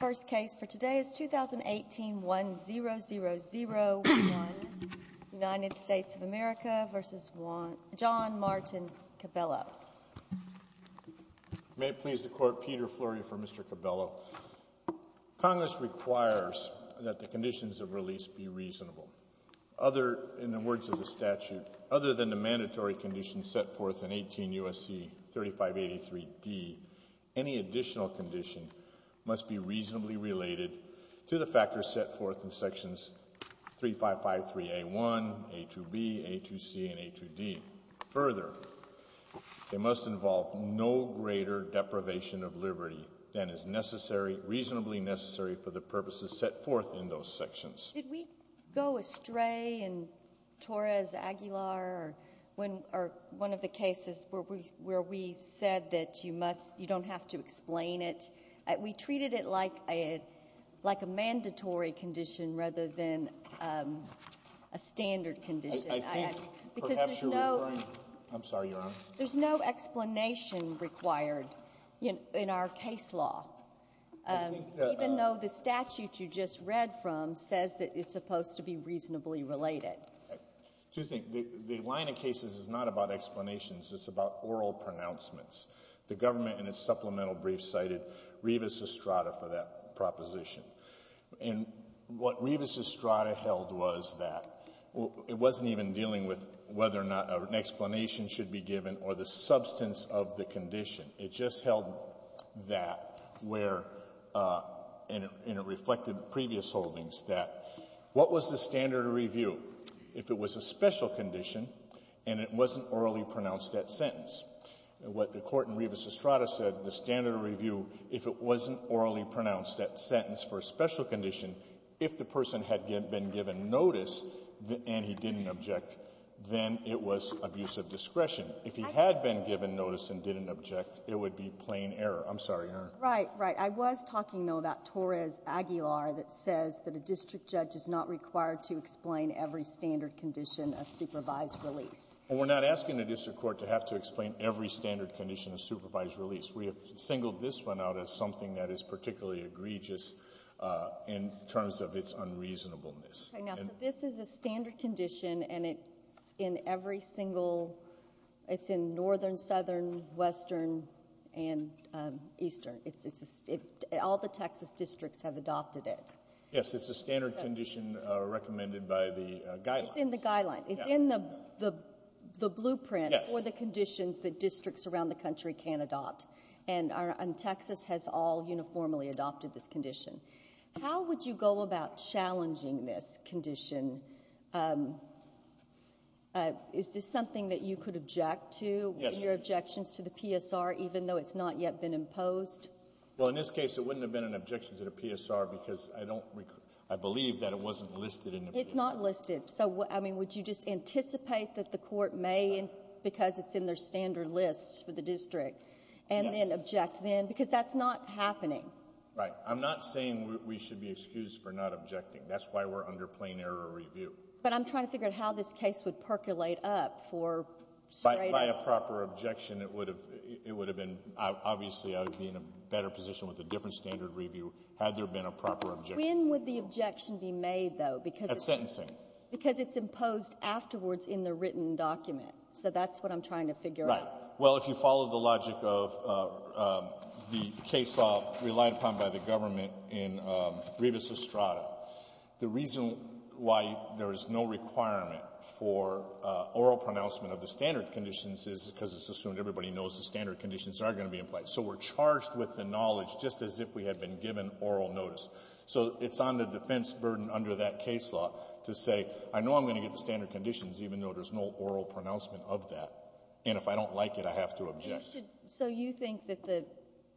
May it please the Court, Peter Flory for Mr. Cabello. Congress requires that the conditions of release be reasonable. In the words of the statute, other than the mandatory conditions set forth in 18 U.S.C. 3583D, any additional condition must be reasonably related to the factors set forth in sections 3553A1, A2B, A2C, and A2D. Further, they must involve no greater deprivation of liberty than is necessary — reasonably necessary for the purposes set forth in those sections. Sotomayor, did we go astray in Torres-Aguilar or one of the cases where we said that you must — you don't have to explain it? We treated it like a — like a mandatory condition rather than a standard condition. I think, perhaps, you're referring — I'm sorry, Your Honor. There's no explanation required in our case law, even though the statute you just read from says that it's supposed to be reasonably related. Two things. The line of cases is not about explanations. It's about oral pronouncements. The government, in its supplemental brief, cited Rivas-Estrada for that proposition. And what Rivas-Estrada held was that it wasn't even dealing with whether or not an explanation should be given or the substance of the condition. It just held that where — and it reflected previous holdings that what was the standard of review? If it was a special condition and it wasn't orally pronounced at sentence. What the Court in Rivas-Estrada said, the standard of review, if it wasn't orally pronounced at sentence for a special condition, if the person had been given notice and he didn't object, then it was abuse of discretion. If he had been given notice and didn't object, it would be plain error. I'm sorry, Your Honor. Right. Right. I was talking, though, about Torres-Aguilar that says that a district judge is not required to explain every standard condition of supervised release. Well, we're not asking the district court to have to explain every standard condition of supervised release. We have singled this one out as something that is particularly egregious in terms of its unreasonableness. Okay. Now, so this is a standard condition and it's in every single — it's in northern, southern, western and eastern. It's — all the Texas districts have adopted it. Yes. It's a standard condition recommended by the guidelines. It's in the guidelines. It's in the blueprint for the conditions that districts around the country can adopt. And Texas has all uniformly adopted this condition. How would you go about challenging this condition? Is this something that you could object to, your objections to the PSR, even though it's not yet been imposed? Well, in this case, it wouldn't have been an objection to the PSR because I don't — I believe that it wasn't listed in the PSR. It's not listed. So, I mean, would you just anticipate that the court may, because it's in their standard list for the district, and then object then? Because that's not happening. Right. I'm not saying we should be excused for not objecting. That's why we're under plain error review. But I'm trying to figure out how this case would percolate up for straight up — By a proper objection, it would have been — obviously, I would be in a better position with a different standard review had there been a proper objection. When would the objection be made, though? At sentencing. Because it's imposed afterwards in the written document. So that's what I'm trying to figure out. Right. Well, if you follow the logic of the case law relied upon by the government in Rivas-Estrada, the reason why there is no requirement for oral pronouncement of the standard conditions is because it's assumed everybody knows the standard conditions are going to be implied. So we're charged with the knowledge just as if we had been given oral notice. So it's on the defense burden under that case law to say, I know I'm going to get the standard conditions even though there's no oral pronouncement of that. And if I don't like it, I have to object. So you think that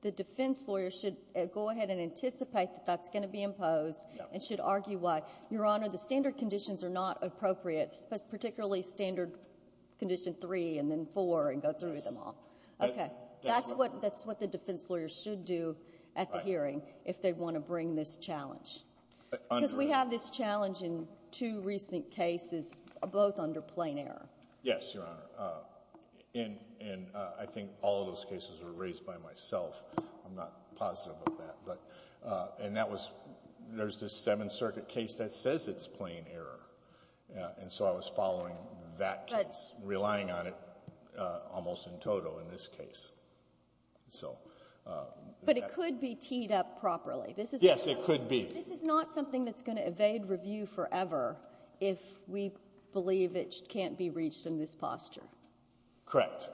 the defense lawyer should go ahead and anticipate that that's going to be imposed and should argue why. Your Honor, the standard conditions are not appropriate, particularly standard condition three and then four and go through them all. OK. That's what the defense lawyer should do at the hearing if they want to bring this challenge. Because we have this challenge in two recent cases, both under plain error. Yes, Your Honor. And I think all of those cases were raised by myself. I'm not positive of that. And there's this Seventh Circuit case that says it's plain error. And so I was following that case, relying on it almost in total in this case. But it could be teed up properly. Yes, it could be. This is not something that's going to evade review forever if we believe it can't be reached in this posture. Correct.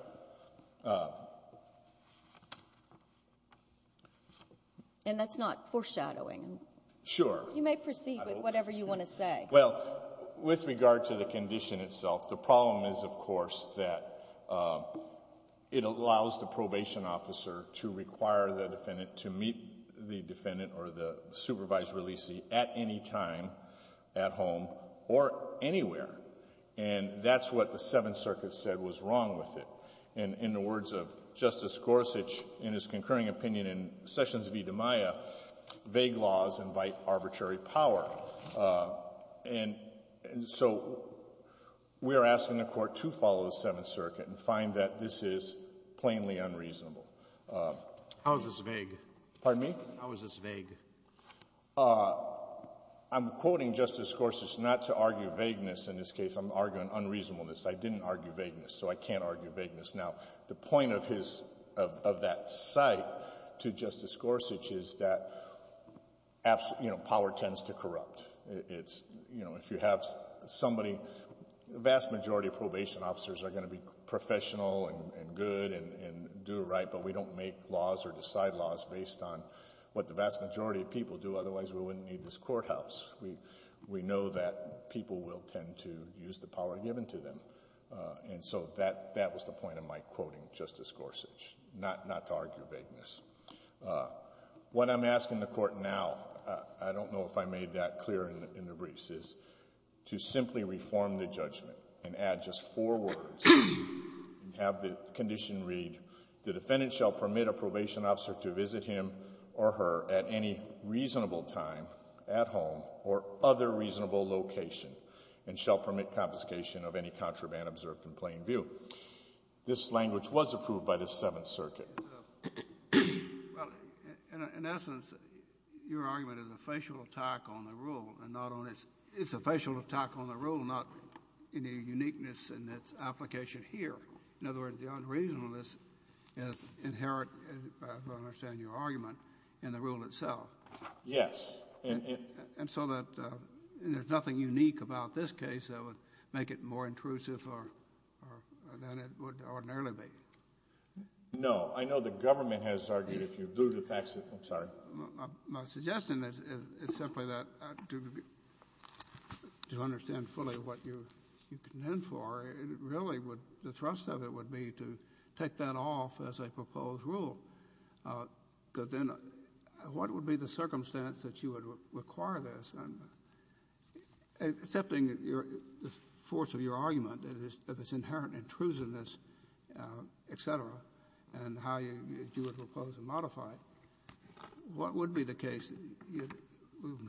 And that's not foreshadowing. Sure. You may proceed with whatever you want to say. Well, with regard to the condition itself, the problem is, of course, that it allows the probation officer to require the defendant or the supervised releasee at any time, at home, or anywhere. And that's what the Seventh Circuit said was wrong with it. And in the words of Justice Gorsuch in his concurring opinion in Sessions v. DiMaia, vague laws invite arbitrary power. And so we are asking the Court to follow the Seventh Circuit and find that this is plainly unreasonable. How is this vague? Pardon me? How is this vague? I'm quoting Justice Gorsuch not to argue vagueness in this case. I'm arguing unreasonableness. I didn't argue vagueness, so I can't argue vagueness. Now, the point of that cite to Justice Gorsuch is that power tends to corrupt. If you have somebody, the vast majority of probation officers are going to be professional and good and do it right. But we don't make laws or decide laws based on what the vast majority of people do. Otherwise, we wouldn't need this courthouse. We know that people will tend to use the power given to them. And so that was the point of my quoting Justice Gorsuch, not to argue vagueness. What I'm asking the Court now, I don't know if I made that clear in the briefs, is to simply reform the judgment and add just four words and have the condition read, the defendant shall permit a probation officer to visit him or her at any reasonable time at home or other reasonable location and shall permit confiscation of any contraband observed in plain view. This language was approved by the Seventh Circuit. Well, in essence, your argument is a facial attack on the rule and not on its own. It's a facial attack on the rule, not in a uniqueness in its application here. In other words, the unreasonableness is inherent, as I understand your argument, in the rule itself. Yes. And so that there's nothing unique about this case that would make it more intrusive than it would ordinarily be. No, I know the government has argued, if you do the facts, I'm sorry. My suggestion is simply that to understand fully what you contend for, really, the thrust of it would be to take that off as a proposed rule. But then what would be the circumstance that you would require this? Accepting the force of your argument, that it's inherently intrusiveness, et cetera, and how you would propose to modify it, what would be the case in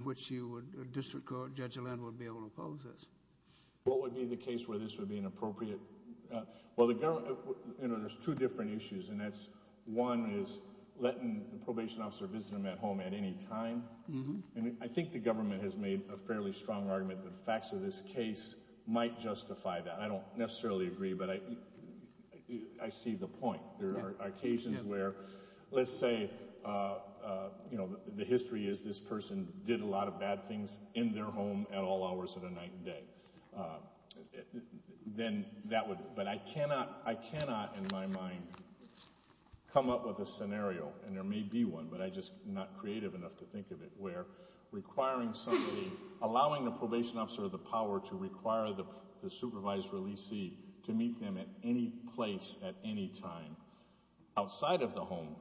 which a district court, Judge What would be the case where this would be inappropriate? Well, there's two different issues, and that's one is letting the probation officer visit him at home at any time. And I think the government has made a fairly strong argument that the facts of this case might justify that. I don't necessarily agree, but I see the point. There are occasions where, let's say, the history is this person did a lot of bad things in their home at all hours of the night and day. Then that would, but I cannot, in my mind, come up with a scenario, and there may be one, but I'm just not creative enough to think of it, where requiring somebody, allowing the probation officer the power to require the supervised release see to meet them at any place at any time outside of the home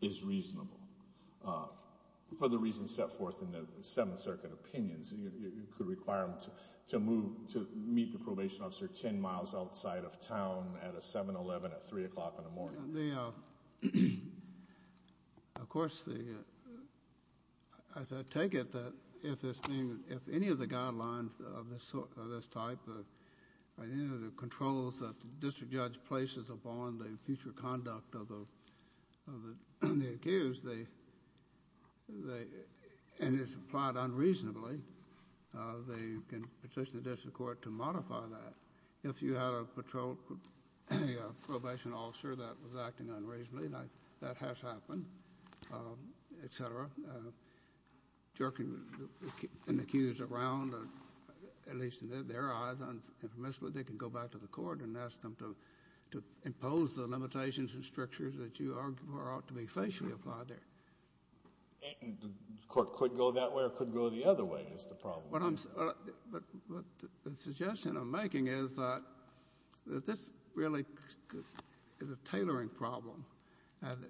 is reasonable. For the reasons set forth in the Seventh Circuit opinions, it could require them to meet the probation officer 10 miles outside of town at a 7-Eleven at 3 o'clock in the morning. Of course, I take it that if any of the guidelines of this type, any of the controls that the district judge places upon the future they can petition the district court to modify that. If you had a probation officer that was acting unreasonably, that has happened, et cetera, jerking an accused around, at least in their eyes, they can go back to the court and ask them to impose the limitations and strictures that you argue are ought to be facially applied there. The court could go that way or could go the other way, is the problem. But the suggestion I'm making is that this really is a tailoring problem. And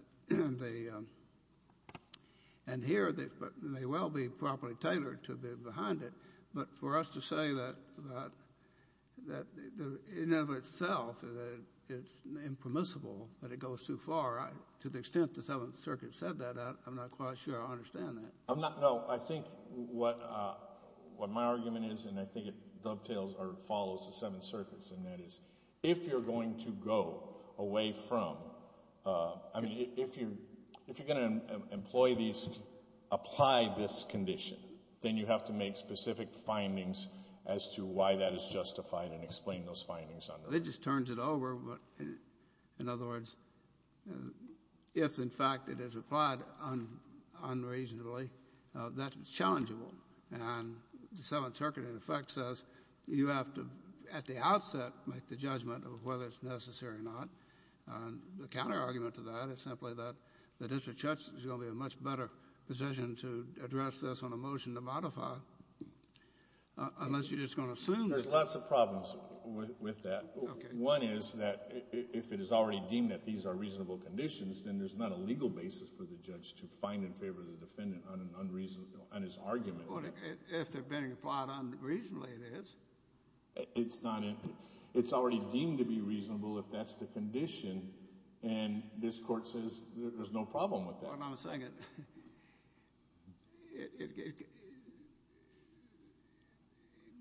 here, they may well be properly tailored to be behind it. But for us to say that in and of itself, it's impermissible, that it goes too far, to the extent the Seventh Circuit said that, I'm not quite sure I understand that. No, I think what my argument is, and I think it dovetails or follows the Seventh Circuit's in that is, if you're going to go away from, I mean, if you're going to apply this condition, then you have to make specific findings as to why that is justified and explain those findings. It just turns it over, in other words, if, in fact, it is applied unreasonably, that it's challengeable. And the Seventh Circuit, in effect, says you have to, at the outset, make the judgment of whether it's necessary or not. And the counterargument to that is simply that the district judge is going to be in a much better position to address this on a motion to modify, unless you're just going to assume. There's lots of problems with that. One is that, if it is already deemed that these are reasonable conditions, then there's not a legal basis for the judge to find in favor of the defendant on his argument. If they're being applied unreasonably, it is. It's not. It's already deemed to be reasonable if that's the condition. And this court says there's no problem with that. What I'm saying is,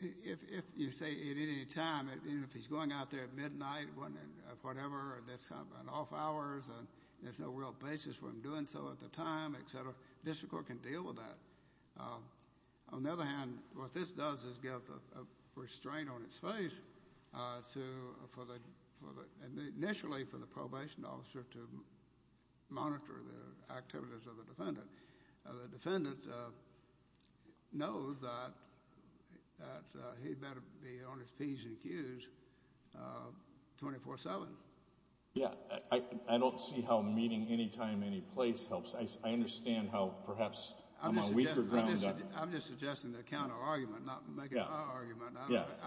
if you say at any time, if he's going out there at midnight or whatever, and there's an off hours, and there's no real basis for him doing so at the time, et cetera, district court can deal with that. On the other hand, what this does is give a restraint on its face, initially, for the probation officer to monitor the activities of the defendant. The defendant knows that he better be on his P's and Q's 24-7. Yeah, I don't see how meeting any time, any place helps. I understand how, perhaps, I'm on weaker ground. I'm just suggesting the counter-argument, not making my argument.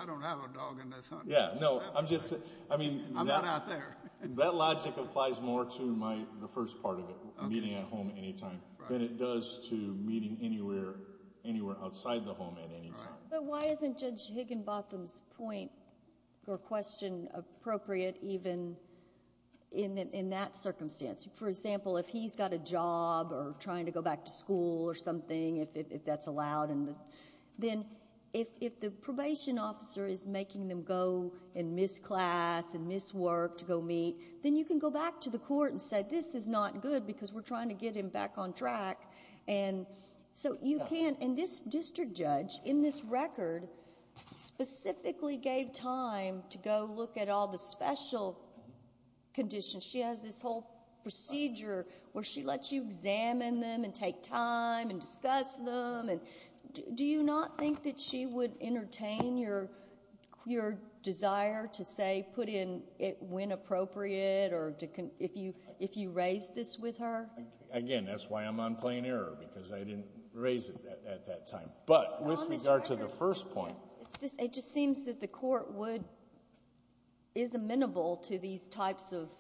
I don't have a dog in this home. Yeah, no, I'm just saying, I mean, that logic applies more to the first part of it, meeting at home at any time, than it does to meeting anywhere outside the home at any time. But why isn't Judge Higginbotham's point or question appropriate even in that circumstance? For example, if he's got a job or trying to go back to school or something, if that's allowed, and then if the probation officer is making them go and miss class and miss work to go meet, then you can go back to the court and say, this is not good, because we're trying to get him back on track. And so you can't. And this district judge, in this record, specifically gave time to go look at all the special conditions. She has this whole procedure where she lets you examine them and take time and discuss them. And do you not think that she would entertain your desire to say, put in it when appropriate or if you raise this with her? Again, that's why I'm on plain error, because I didn't raise it at that time. But with regard to the first point. It just seems that the court would is amenable to these types of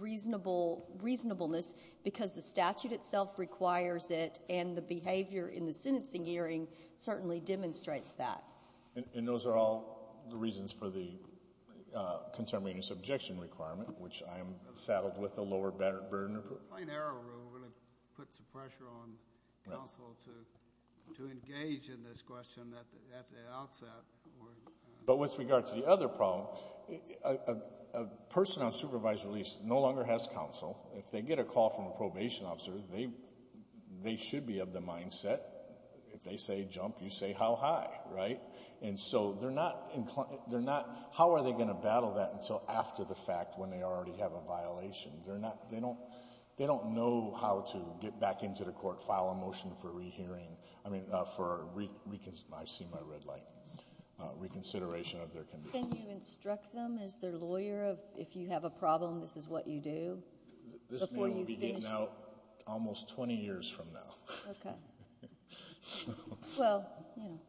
reasonableness, because the statute itself requires it. And the behavior in the sentencing hearing certainly demonstrates that. And those are all the reasons for the contemporaneous objection requirement, which I'm saddled with the lower burden of it. Plain error really puts the pressure on counsel to engage in this question at the outset. But with regard to the other problem, a person on supervised release no longer has counsel. If they get a call from a probation officer, they should be of the mindset. If they say jump, you say how high, right? And so they're not inclined. How are they going to battle that until after the fact when they already have a violation? They don't know how to get back into the court, file a motion for reconsideration of their conditions. Can you instruct them as their lawyer of if you have a problem, this is what you do? This may well be getting out almost 20 years from now. OK. Well, you know.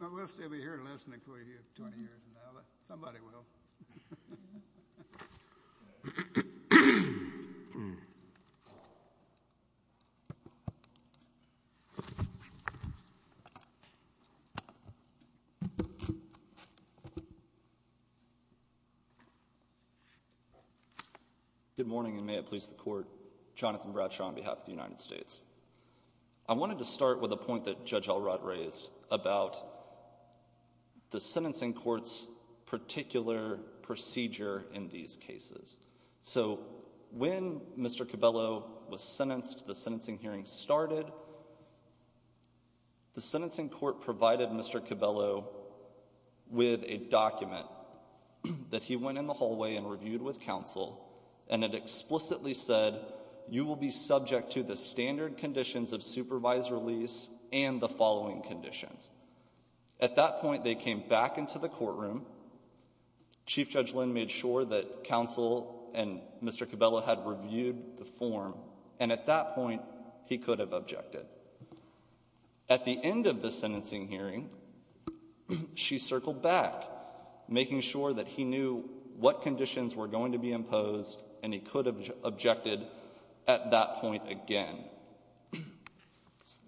Well, we'll still be here listening for you 20 years from now, but somebody will. Good morning, and may it please the court. Jonathan Bradshaw on behalf of the United States. I wanted to start with a point that Judge Alrutt raised about the sentencing court's particular procedure in these cases. So when Mr. Cabello was sentenced, the sentencing hearing started, the sentencing court provided Mr. Cabello with a document that he went in the hallway and reviewed with counsel, and it explicitly said, you will be subject to the standard conditions of supervised release and the following conditions. At that point, they came back into the courtroom. Chief Judge Lynn made sure that counsel and Mr. Cabello had reviewed the form, and at that point, he could have objected. At the end of the sentencing hearing, she circled back, making sure that he knew what conditions were going to be imposed, and he could have objected at that point again.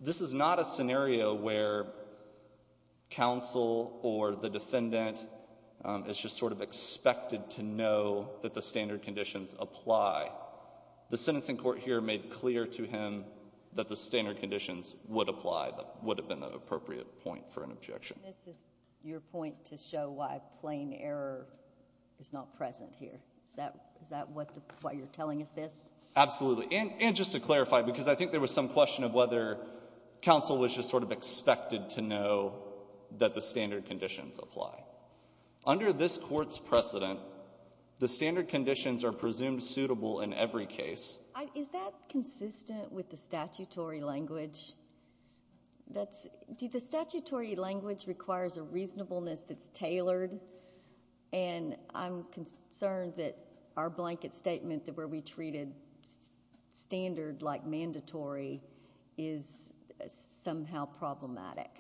This is not a scenario where counsel or the defendant is just sort of expected to know that the standard conditions apply. The sentencing court here made clear to him that the standard conditions would apply. That would have been the appropriate point for an objection. And this is your point to show why plain error is not present here. Is that what you're telling us this? Absolutely. And just to clarify, because I think there was some question of whether counsel was just sort of expected to know that the standard conditions apply. Under this court's precedent, the standard conditions are presumed suitable in every case. Is that consistent with the statutory language? The statutory language requires a reasonableness that's tailored, and I'm concerned that our blanket statement that where we treated standard like mandatory is somehow problematic.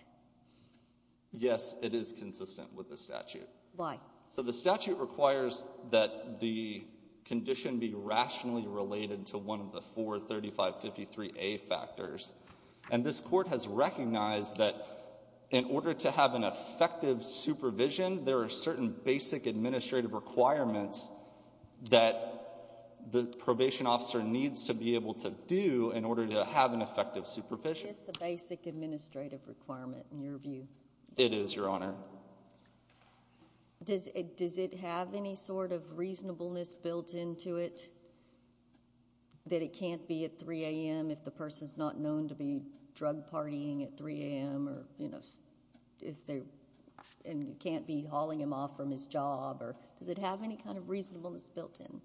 Yes, it is consistent with the statute. Why? So the statute requires that the condition be rationally related to one of the four 3553A factors. And this court has recognized that in order to have an effective supervision, there are certain basic administrative requirements that the probation officer needs to be able to do in order to have an effective supervision. Is this a basic administrative requirement in your view? It is, Your Honor. Does it have any sort of reasonableness built into it that it can't be at 3 AM if the person's not known to be drug partying at 3 AM, or if they can't be hauling him off from his job? Or does it have any kind of reasonableness built in?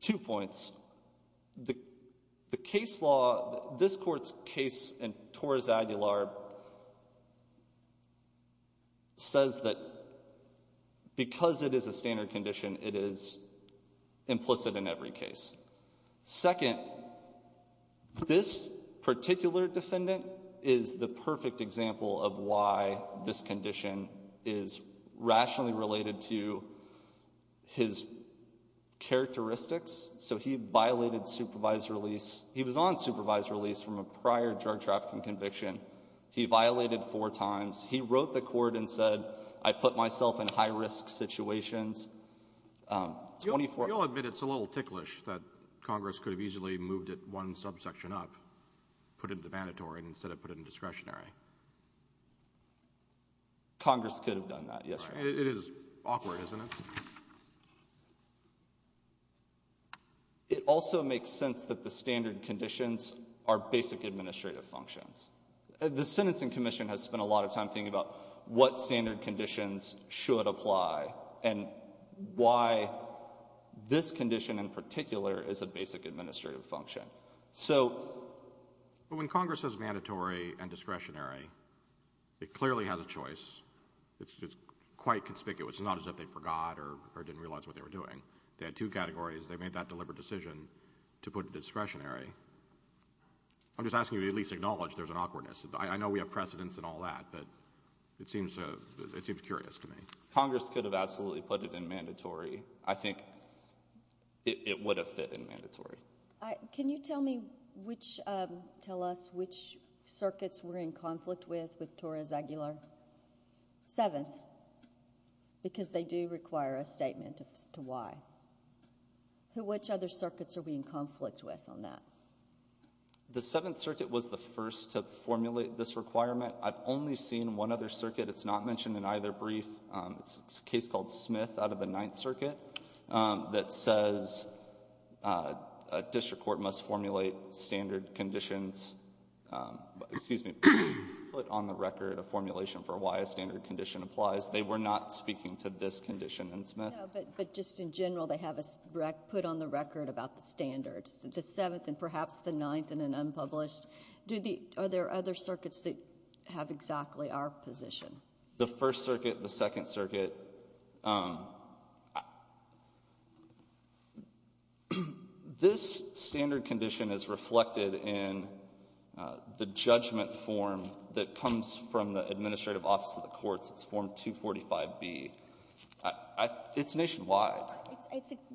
Two points. The case law, this court's case in Torres Aguilar says that because it is a standard condition, it is implicit in every case. Second, this particular defendant is the perfect example of why this condition is rationally related to his characteristics. So he violated supervised release. He was on supervised release from a prior drug trafficking conviction. He violated four times. He wrote the court and said, I put myself in high-risk situations. You'll admit it's a little ticklish that Congress could have easily moved it one subsection up, put it into mandatory, instead of put it in discretionary. Congress could have done that, yes, Your Honor. It is awkward, isn't it? It also makes sense that the standard conditions are basic administrative functions. The Sentencing Commission has spent a lot of time thinking about what standard conditions should apply. And why this condition in particular is a basic administrative function. So when Congress says mandatory and discretionary, it clearly has a choice. It's quite conspicuous. It's not as if they forgot or didn't realize what they were doing. They had two categories. They made that deliberate decision to put it in discretionary. I'm just asking you to at least acknowledge there's an awkwardness. I know we have precedents and all that, but it seems curious to me. Congress could have absolutely put it in mandatory. I think it would have fit in mandatory. Can you tell me which, tell us which circuits were in conflict with Torres Aguilar 7th? Because they do require a statement as to why. Which other circuits are we in conflict with on that? The 7th Circuit was the first to formulate this requirement. I've only seen one other circuit. It's not mentioned in either brief. It's a case called Smith out of the 9th Circuit that says a district court must formulate standard conditions. Excuse me, put on the record a formulation for why a standard condition applies. They were not speaking to this condition in Smith. No, but just in general, they have put on the record about the standards, the 7th and perhaps the 9th in an unpublished. Are there other circuits that have exactly our position? The 1st Circuit, the 2nd Circuit. This standard condition is reflected in the judgment form that comes from the administrative office of the courts. It's form 245B. It's nationwide.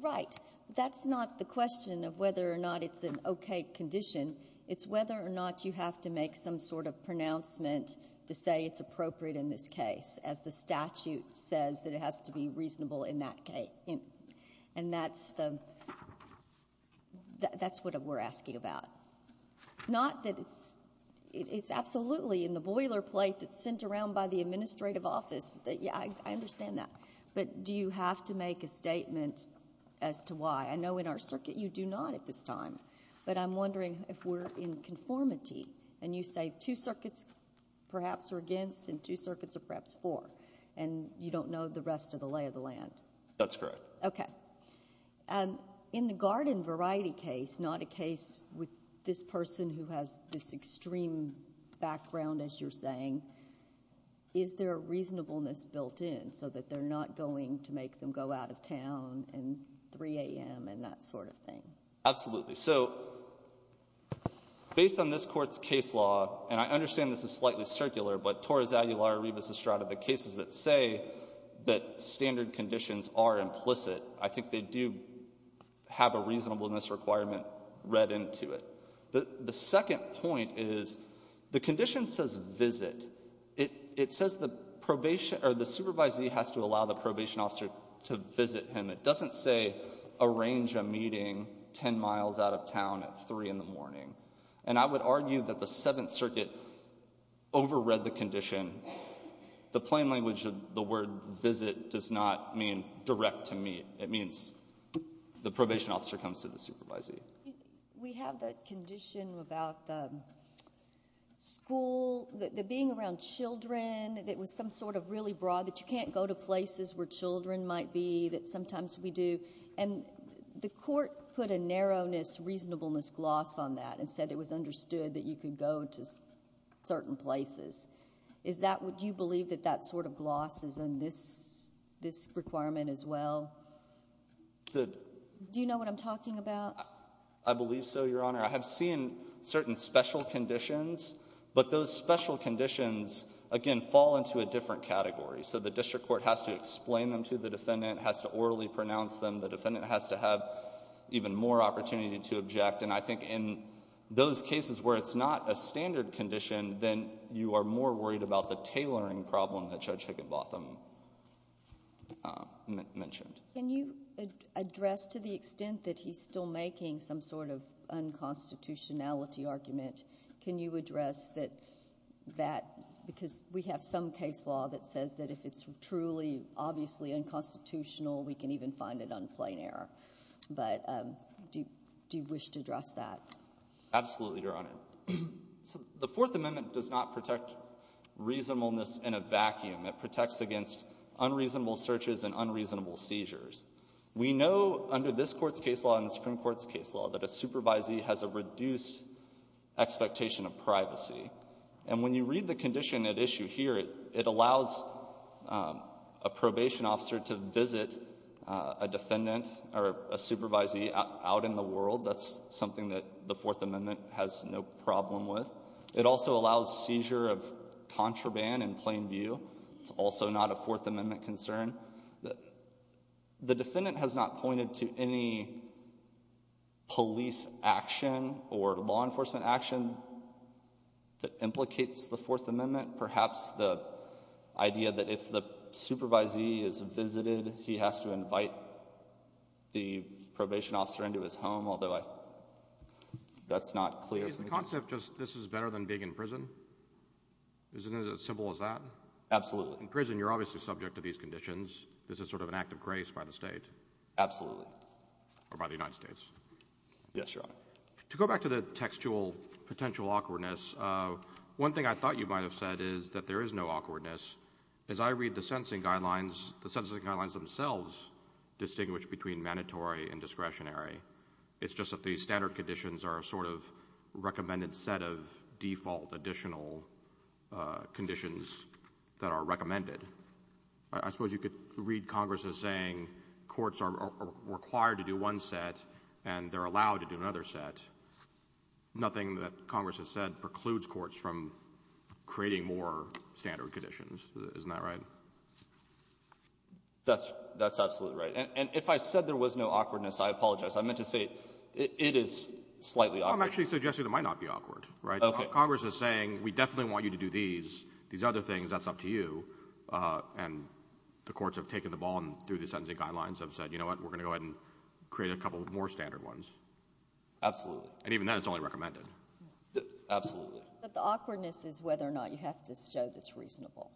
Right. That's not the question of whether or not it's an OK condition. It's whether or not you have to make some sort of pronouncement to say it's appropriate in this case, as the statute says, that it has to be reasonable in that case. And that's what we're asking about. Not that it's absolutely in the boilerplate that's sent around by the administrative office. I understand that. But do you have to make a statement as to why? I know in our circuit, you do not at this time. But I'm wondering if we're in conformity, and you say two circuits perhaps are against, and two circuits are perhaps for. And you don't know the rest of the lay of the land. That's correct. OK. In the garden variety case, not a case with this person who has this extreme background, as you're saying, is there a reasonableness built in so that they're not going to make them go out of town and 3 AM and that sort of thing? Absolutely. So based on this Court's case law, and I understand this is slightly circular, but Torres-Aguilar, Rebus, Estrada, the cases that say that standard conditions are implicit, I think they do have a reasonableness requirement read into it. The second point is the condition says visit. It says the probation, or the supervisee has to allow the probation officer to visit him. It doesn't say arrange a meeting 10 miles out of town at 3 in the morning. And I would argue that the Seventh Circuit overread the condition. The plain language of the word visit does not mean direct to meet. It means the probation officer comes to the supervisee. We have the condition about the school, the being around children, that was some sort of really broad, that you can't go to places where children might be, that sometimes we do. And the Court put a narrowness, reasonableness gloss on that and said it was understood that you could go to certain places. Do you believe that that sort of gloss is in this requirement as well? Do you know what I'm talking about? I believe so, Your Honor. I have seen certain special conditions, but those special conditions, again, fall into a different category. So the district court has to explain them to the defendant, has to orally pronounce them. The defendant has to have even more opportunity to object. And I think in those cases where it's not a standard condition, then you are more worried about the tailoring problem that Judge Higginbotham mentioned. Can you address, to the extent that he's still making some sort of unconstitutionality argument, can you address that, because we have some case law that says that if it's truly, obviously, unconstitutional, we can even find it on plain error. But do you wish to address that? Absolutely, Your Honor. So the Fourth Amendment does not protect reasonableness in a vacuum. It protects against unreasonable searches and unreasonable seizures. We know under this Court's case law and the Supreme Court's case law that a supervisee has a reduced expectation of privacy. And when you read the condition at issue here, it allows a probation officer to visit a defendant or a supervisee out in the world. That's something that the Fourth Amendment has no problem with. It also allows seizure of contraband in plain view. It's also not a Fourth Amendment concern. The defendant has not pointed to any police action or law enforcement action that implicates the Fourth Amendment. Perhaps the idea that if the supervisee is visited, he has to invite the probation officer into his home, although that's not clear. Is the concept just this is better than being in prison? Isn't it as simple as that? Absolutely. In prison, you're obviously subject to these conditions. This is sort of an act of grace by the state. Absolutely. Or by the United States. Yes, Your Honor. To go back to the textual potential awkwardness, one thing I thought you might have said is that there is no awkwardness. As I read the sentencing guidelines, the sentencing guidelines themselves distinguish between mandatory and discretionary. It's just that these standard conditions are a sort of recommended set of default additional conditions that are recommended. I suppose you could read Congress as saying courts are required to do one set and they're allowed to do another set. Nothing that Congress has said precludes courts from creating more standard conditions. Isn't that right? That's absolutely right. And if I said there was no awkwardness, I apologize. I meant to say it is slightly awkward. I'm actually suggesting it might not be awkward. Congress is saying we definitely want you to do these. These other things, that's up to you. And the courts have taken the ball and through the sentencing guidelines have said, you know what? We're going to go ahead and create a couple of more standard ones. Absolutely. And even then, it's only recommended. Absolutely. But the awkwardness is whether or not you have to show that it's reasonable.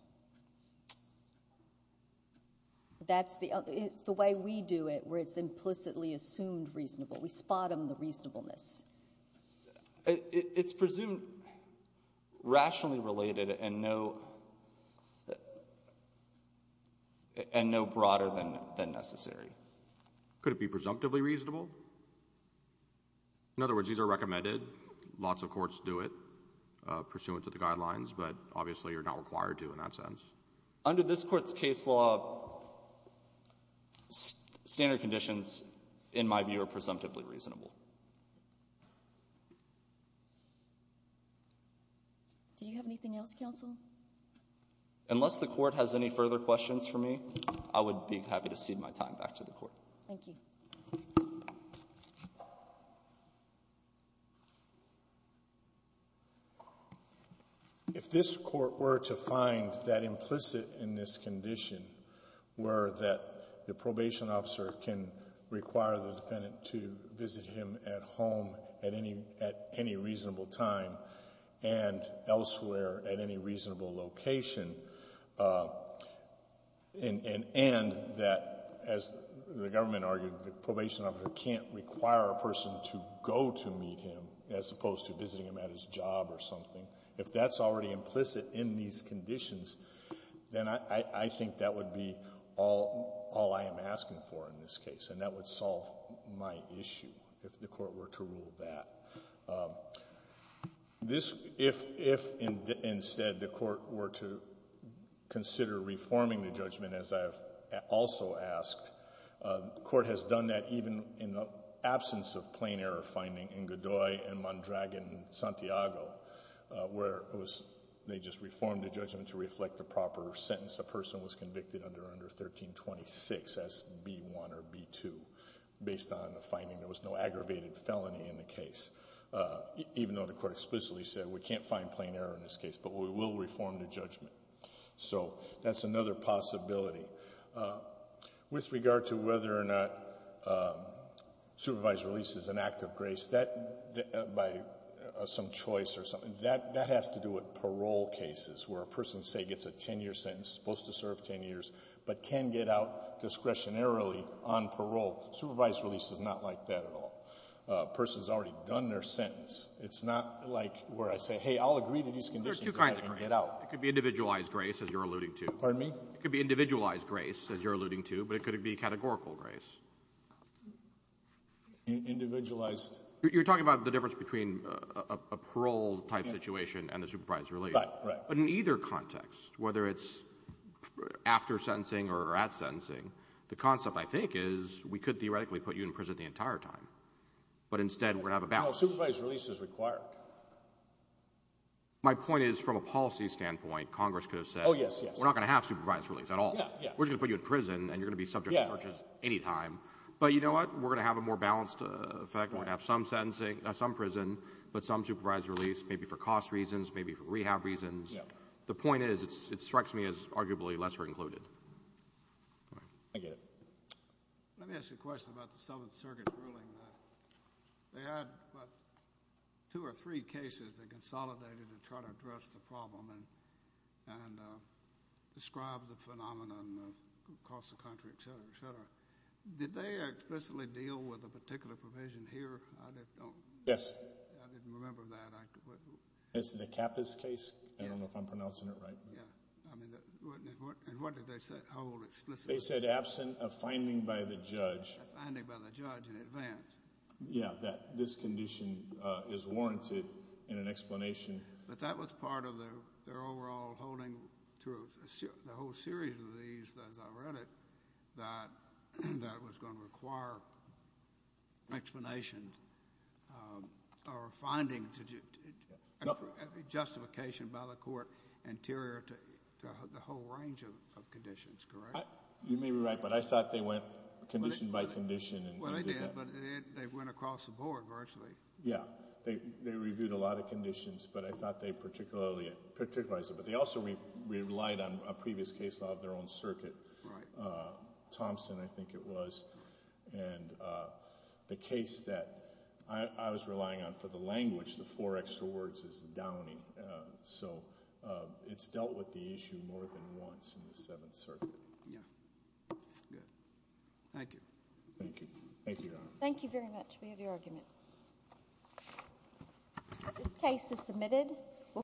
That's the way we do it, where it's implicitly assumed reasonable. We spot them the reasonableness. It's presumed rationally related and no broader than necessary. Could it be presumptively reasonable? In other words, these are recommended. Lots of courts do it pursuant to the guidelines. But obviously, you're not required to in that sense. Under this court's case law, standard conditions, in my view, are presumptively reasonable. Do you have anything else, counsel? Unless the court has any further questions for me, I would be happy to cede my time back to the court. Thank you. If this court were to find that implicit in this condition were that the probation officer can require the defendant to visit him at home at any reasonable time and elsewhere at any reasonable location and that, as the government argued, the probation officer can't require a person to go to meet him as opposed to visiting him at his job or something, if that's already implicit in these conditions, then I think that would be all I am asking for in this case. And that would solve my issue, if the court were to rule that. If, instead, the court were to consider reforming the judgment, as I have also asked, the court has done that even in the absence of plain error finding in Godoy and Mondragon-Santiago, where they just reformed the judgment to reflect the proper sentence. A person was convicted under 1326 as B-1 or B-2, based on the finding there was no aggravated felony in the case, even though the court explicitly said we can't find plain error in this case, but we will reform the judgment. So that's another possibility. With regard to whether or not supervised release is an act of grace, by some choice or something, that has to do with parole cases, where a person, say, gets a 10-year sentence, supposed to serve 10 years, but can get out discretionarily on parole. Supervised release is not like that at all. A person's already done their sentence. It's not like where I say, hey, I'll agree to these conditions and get out. It could be individualized grace, as you're alluding to. Pardon me? It could be individualized grace, as you're alluding to. But it could be categorical grace. Individualized? You're talking about the difference between a parole-type situation and a supervised release. But in either context, whether it's after sentencing or at sentencing, the concept, I think, is we could theoretically put you in prison the entire time. But instead, we're going to have a balance. No, supervised release is required. My point is, from a policy standpoint, Congress could have said, we're not going to have supervised release at all. We're just going to put you in prison, and you're going to be subject to searches any time. But you know what? We're going to have a more balanced effect. We're going to have some prison, but some supervised release, maybe for cost reasons, maybe for rehab reasons. The point is, it strikes me as arguably lesser included. I get it. Let me ask you a question about the Seventh Circuit ruling. They had, what, two or three cases that consolidated to try to address the problem and describe the phenomenon across the country, et cetera, et cetera. Did they explicitly deal with a particular provision here? Yes. I didn't remember that. It's the Cappas case. I don't know if I'm pronouncing it right. And what did they hold explicitly? They said, absent a finding by the judge. A finding by the judge in advance. Yeah, that this condition is warranted in an explanation. But that was part of their overall holding through the whole series of these, as I read it, that it was going to require explanations or finding justification by the court anterior to the whole range of conditions, correct? You may be right, but I thought they went condition by condition and did that. Well, they did, but they went across the board, virtually. Yeah. They reviewed a lot of conditions, but I thought they particularly particularized it. But they also relied on a previous case law of their own circuit. Thompson, I think it was. And the case that I was relying on for the language, the four extra words, is Downey. So it's dealt with the issue more than once in the Seventh Circuit. Yeah. Good. Thank you. Thank you. Thank you, Your Honor. Thank you very much. We have your argument. This case is submitted.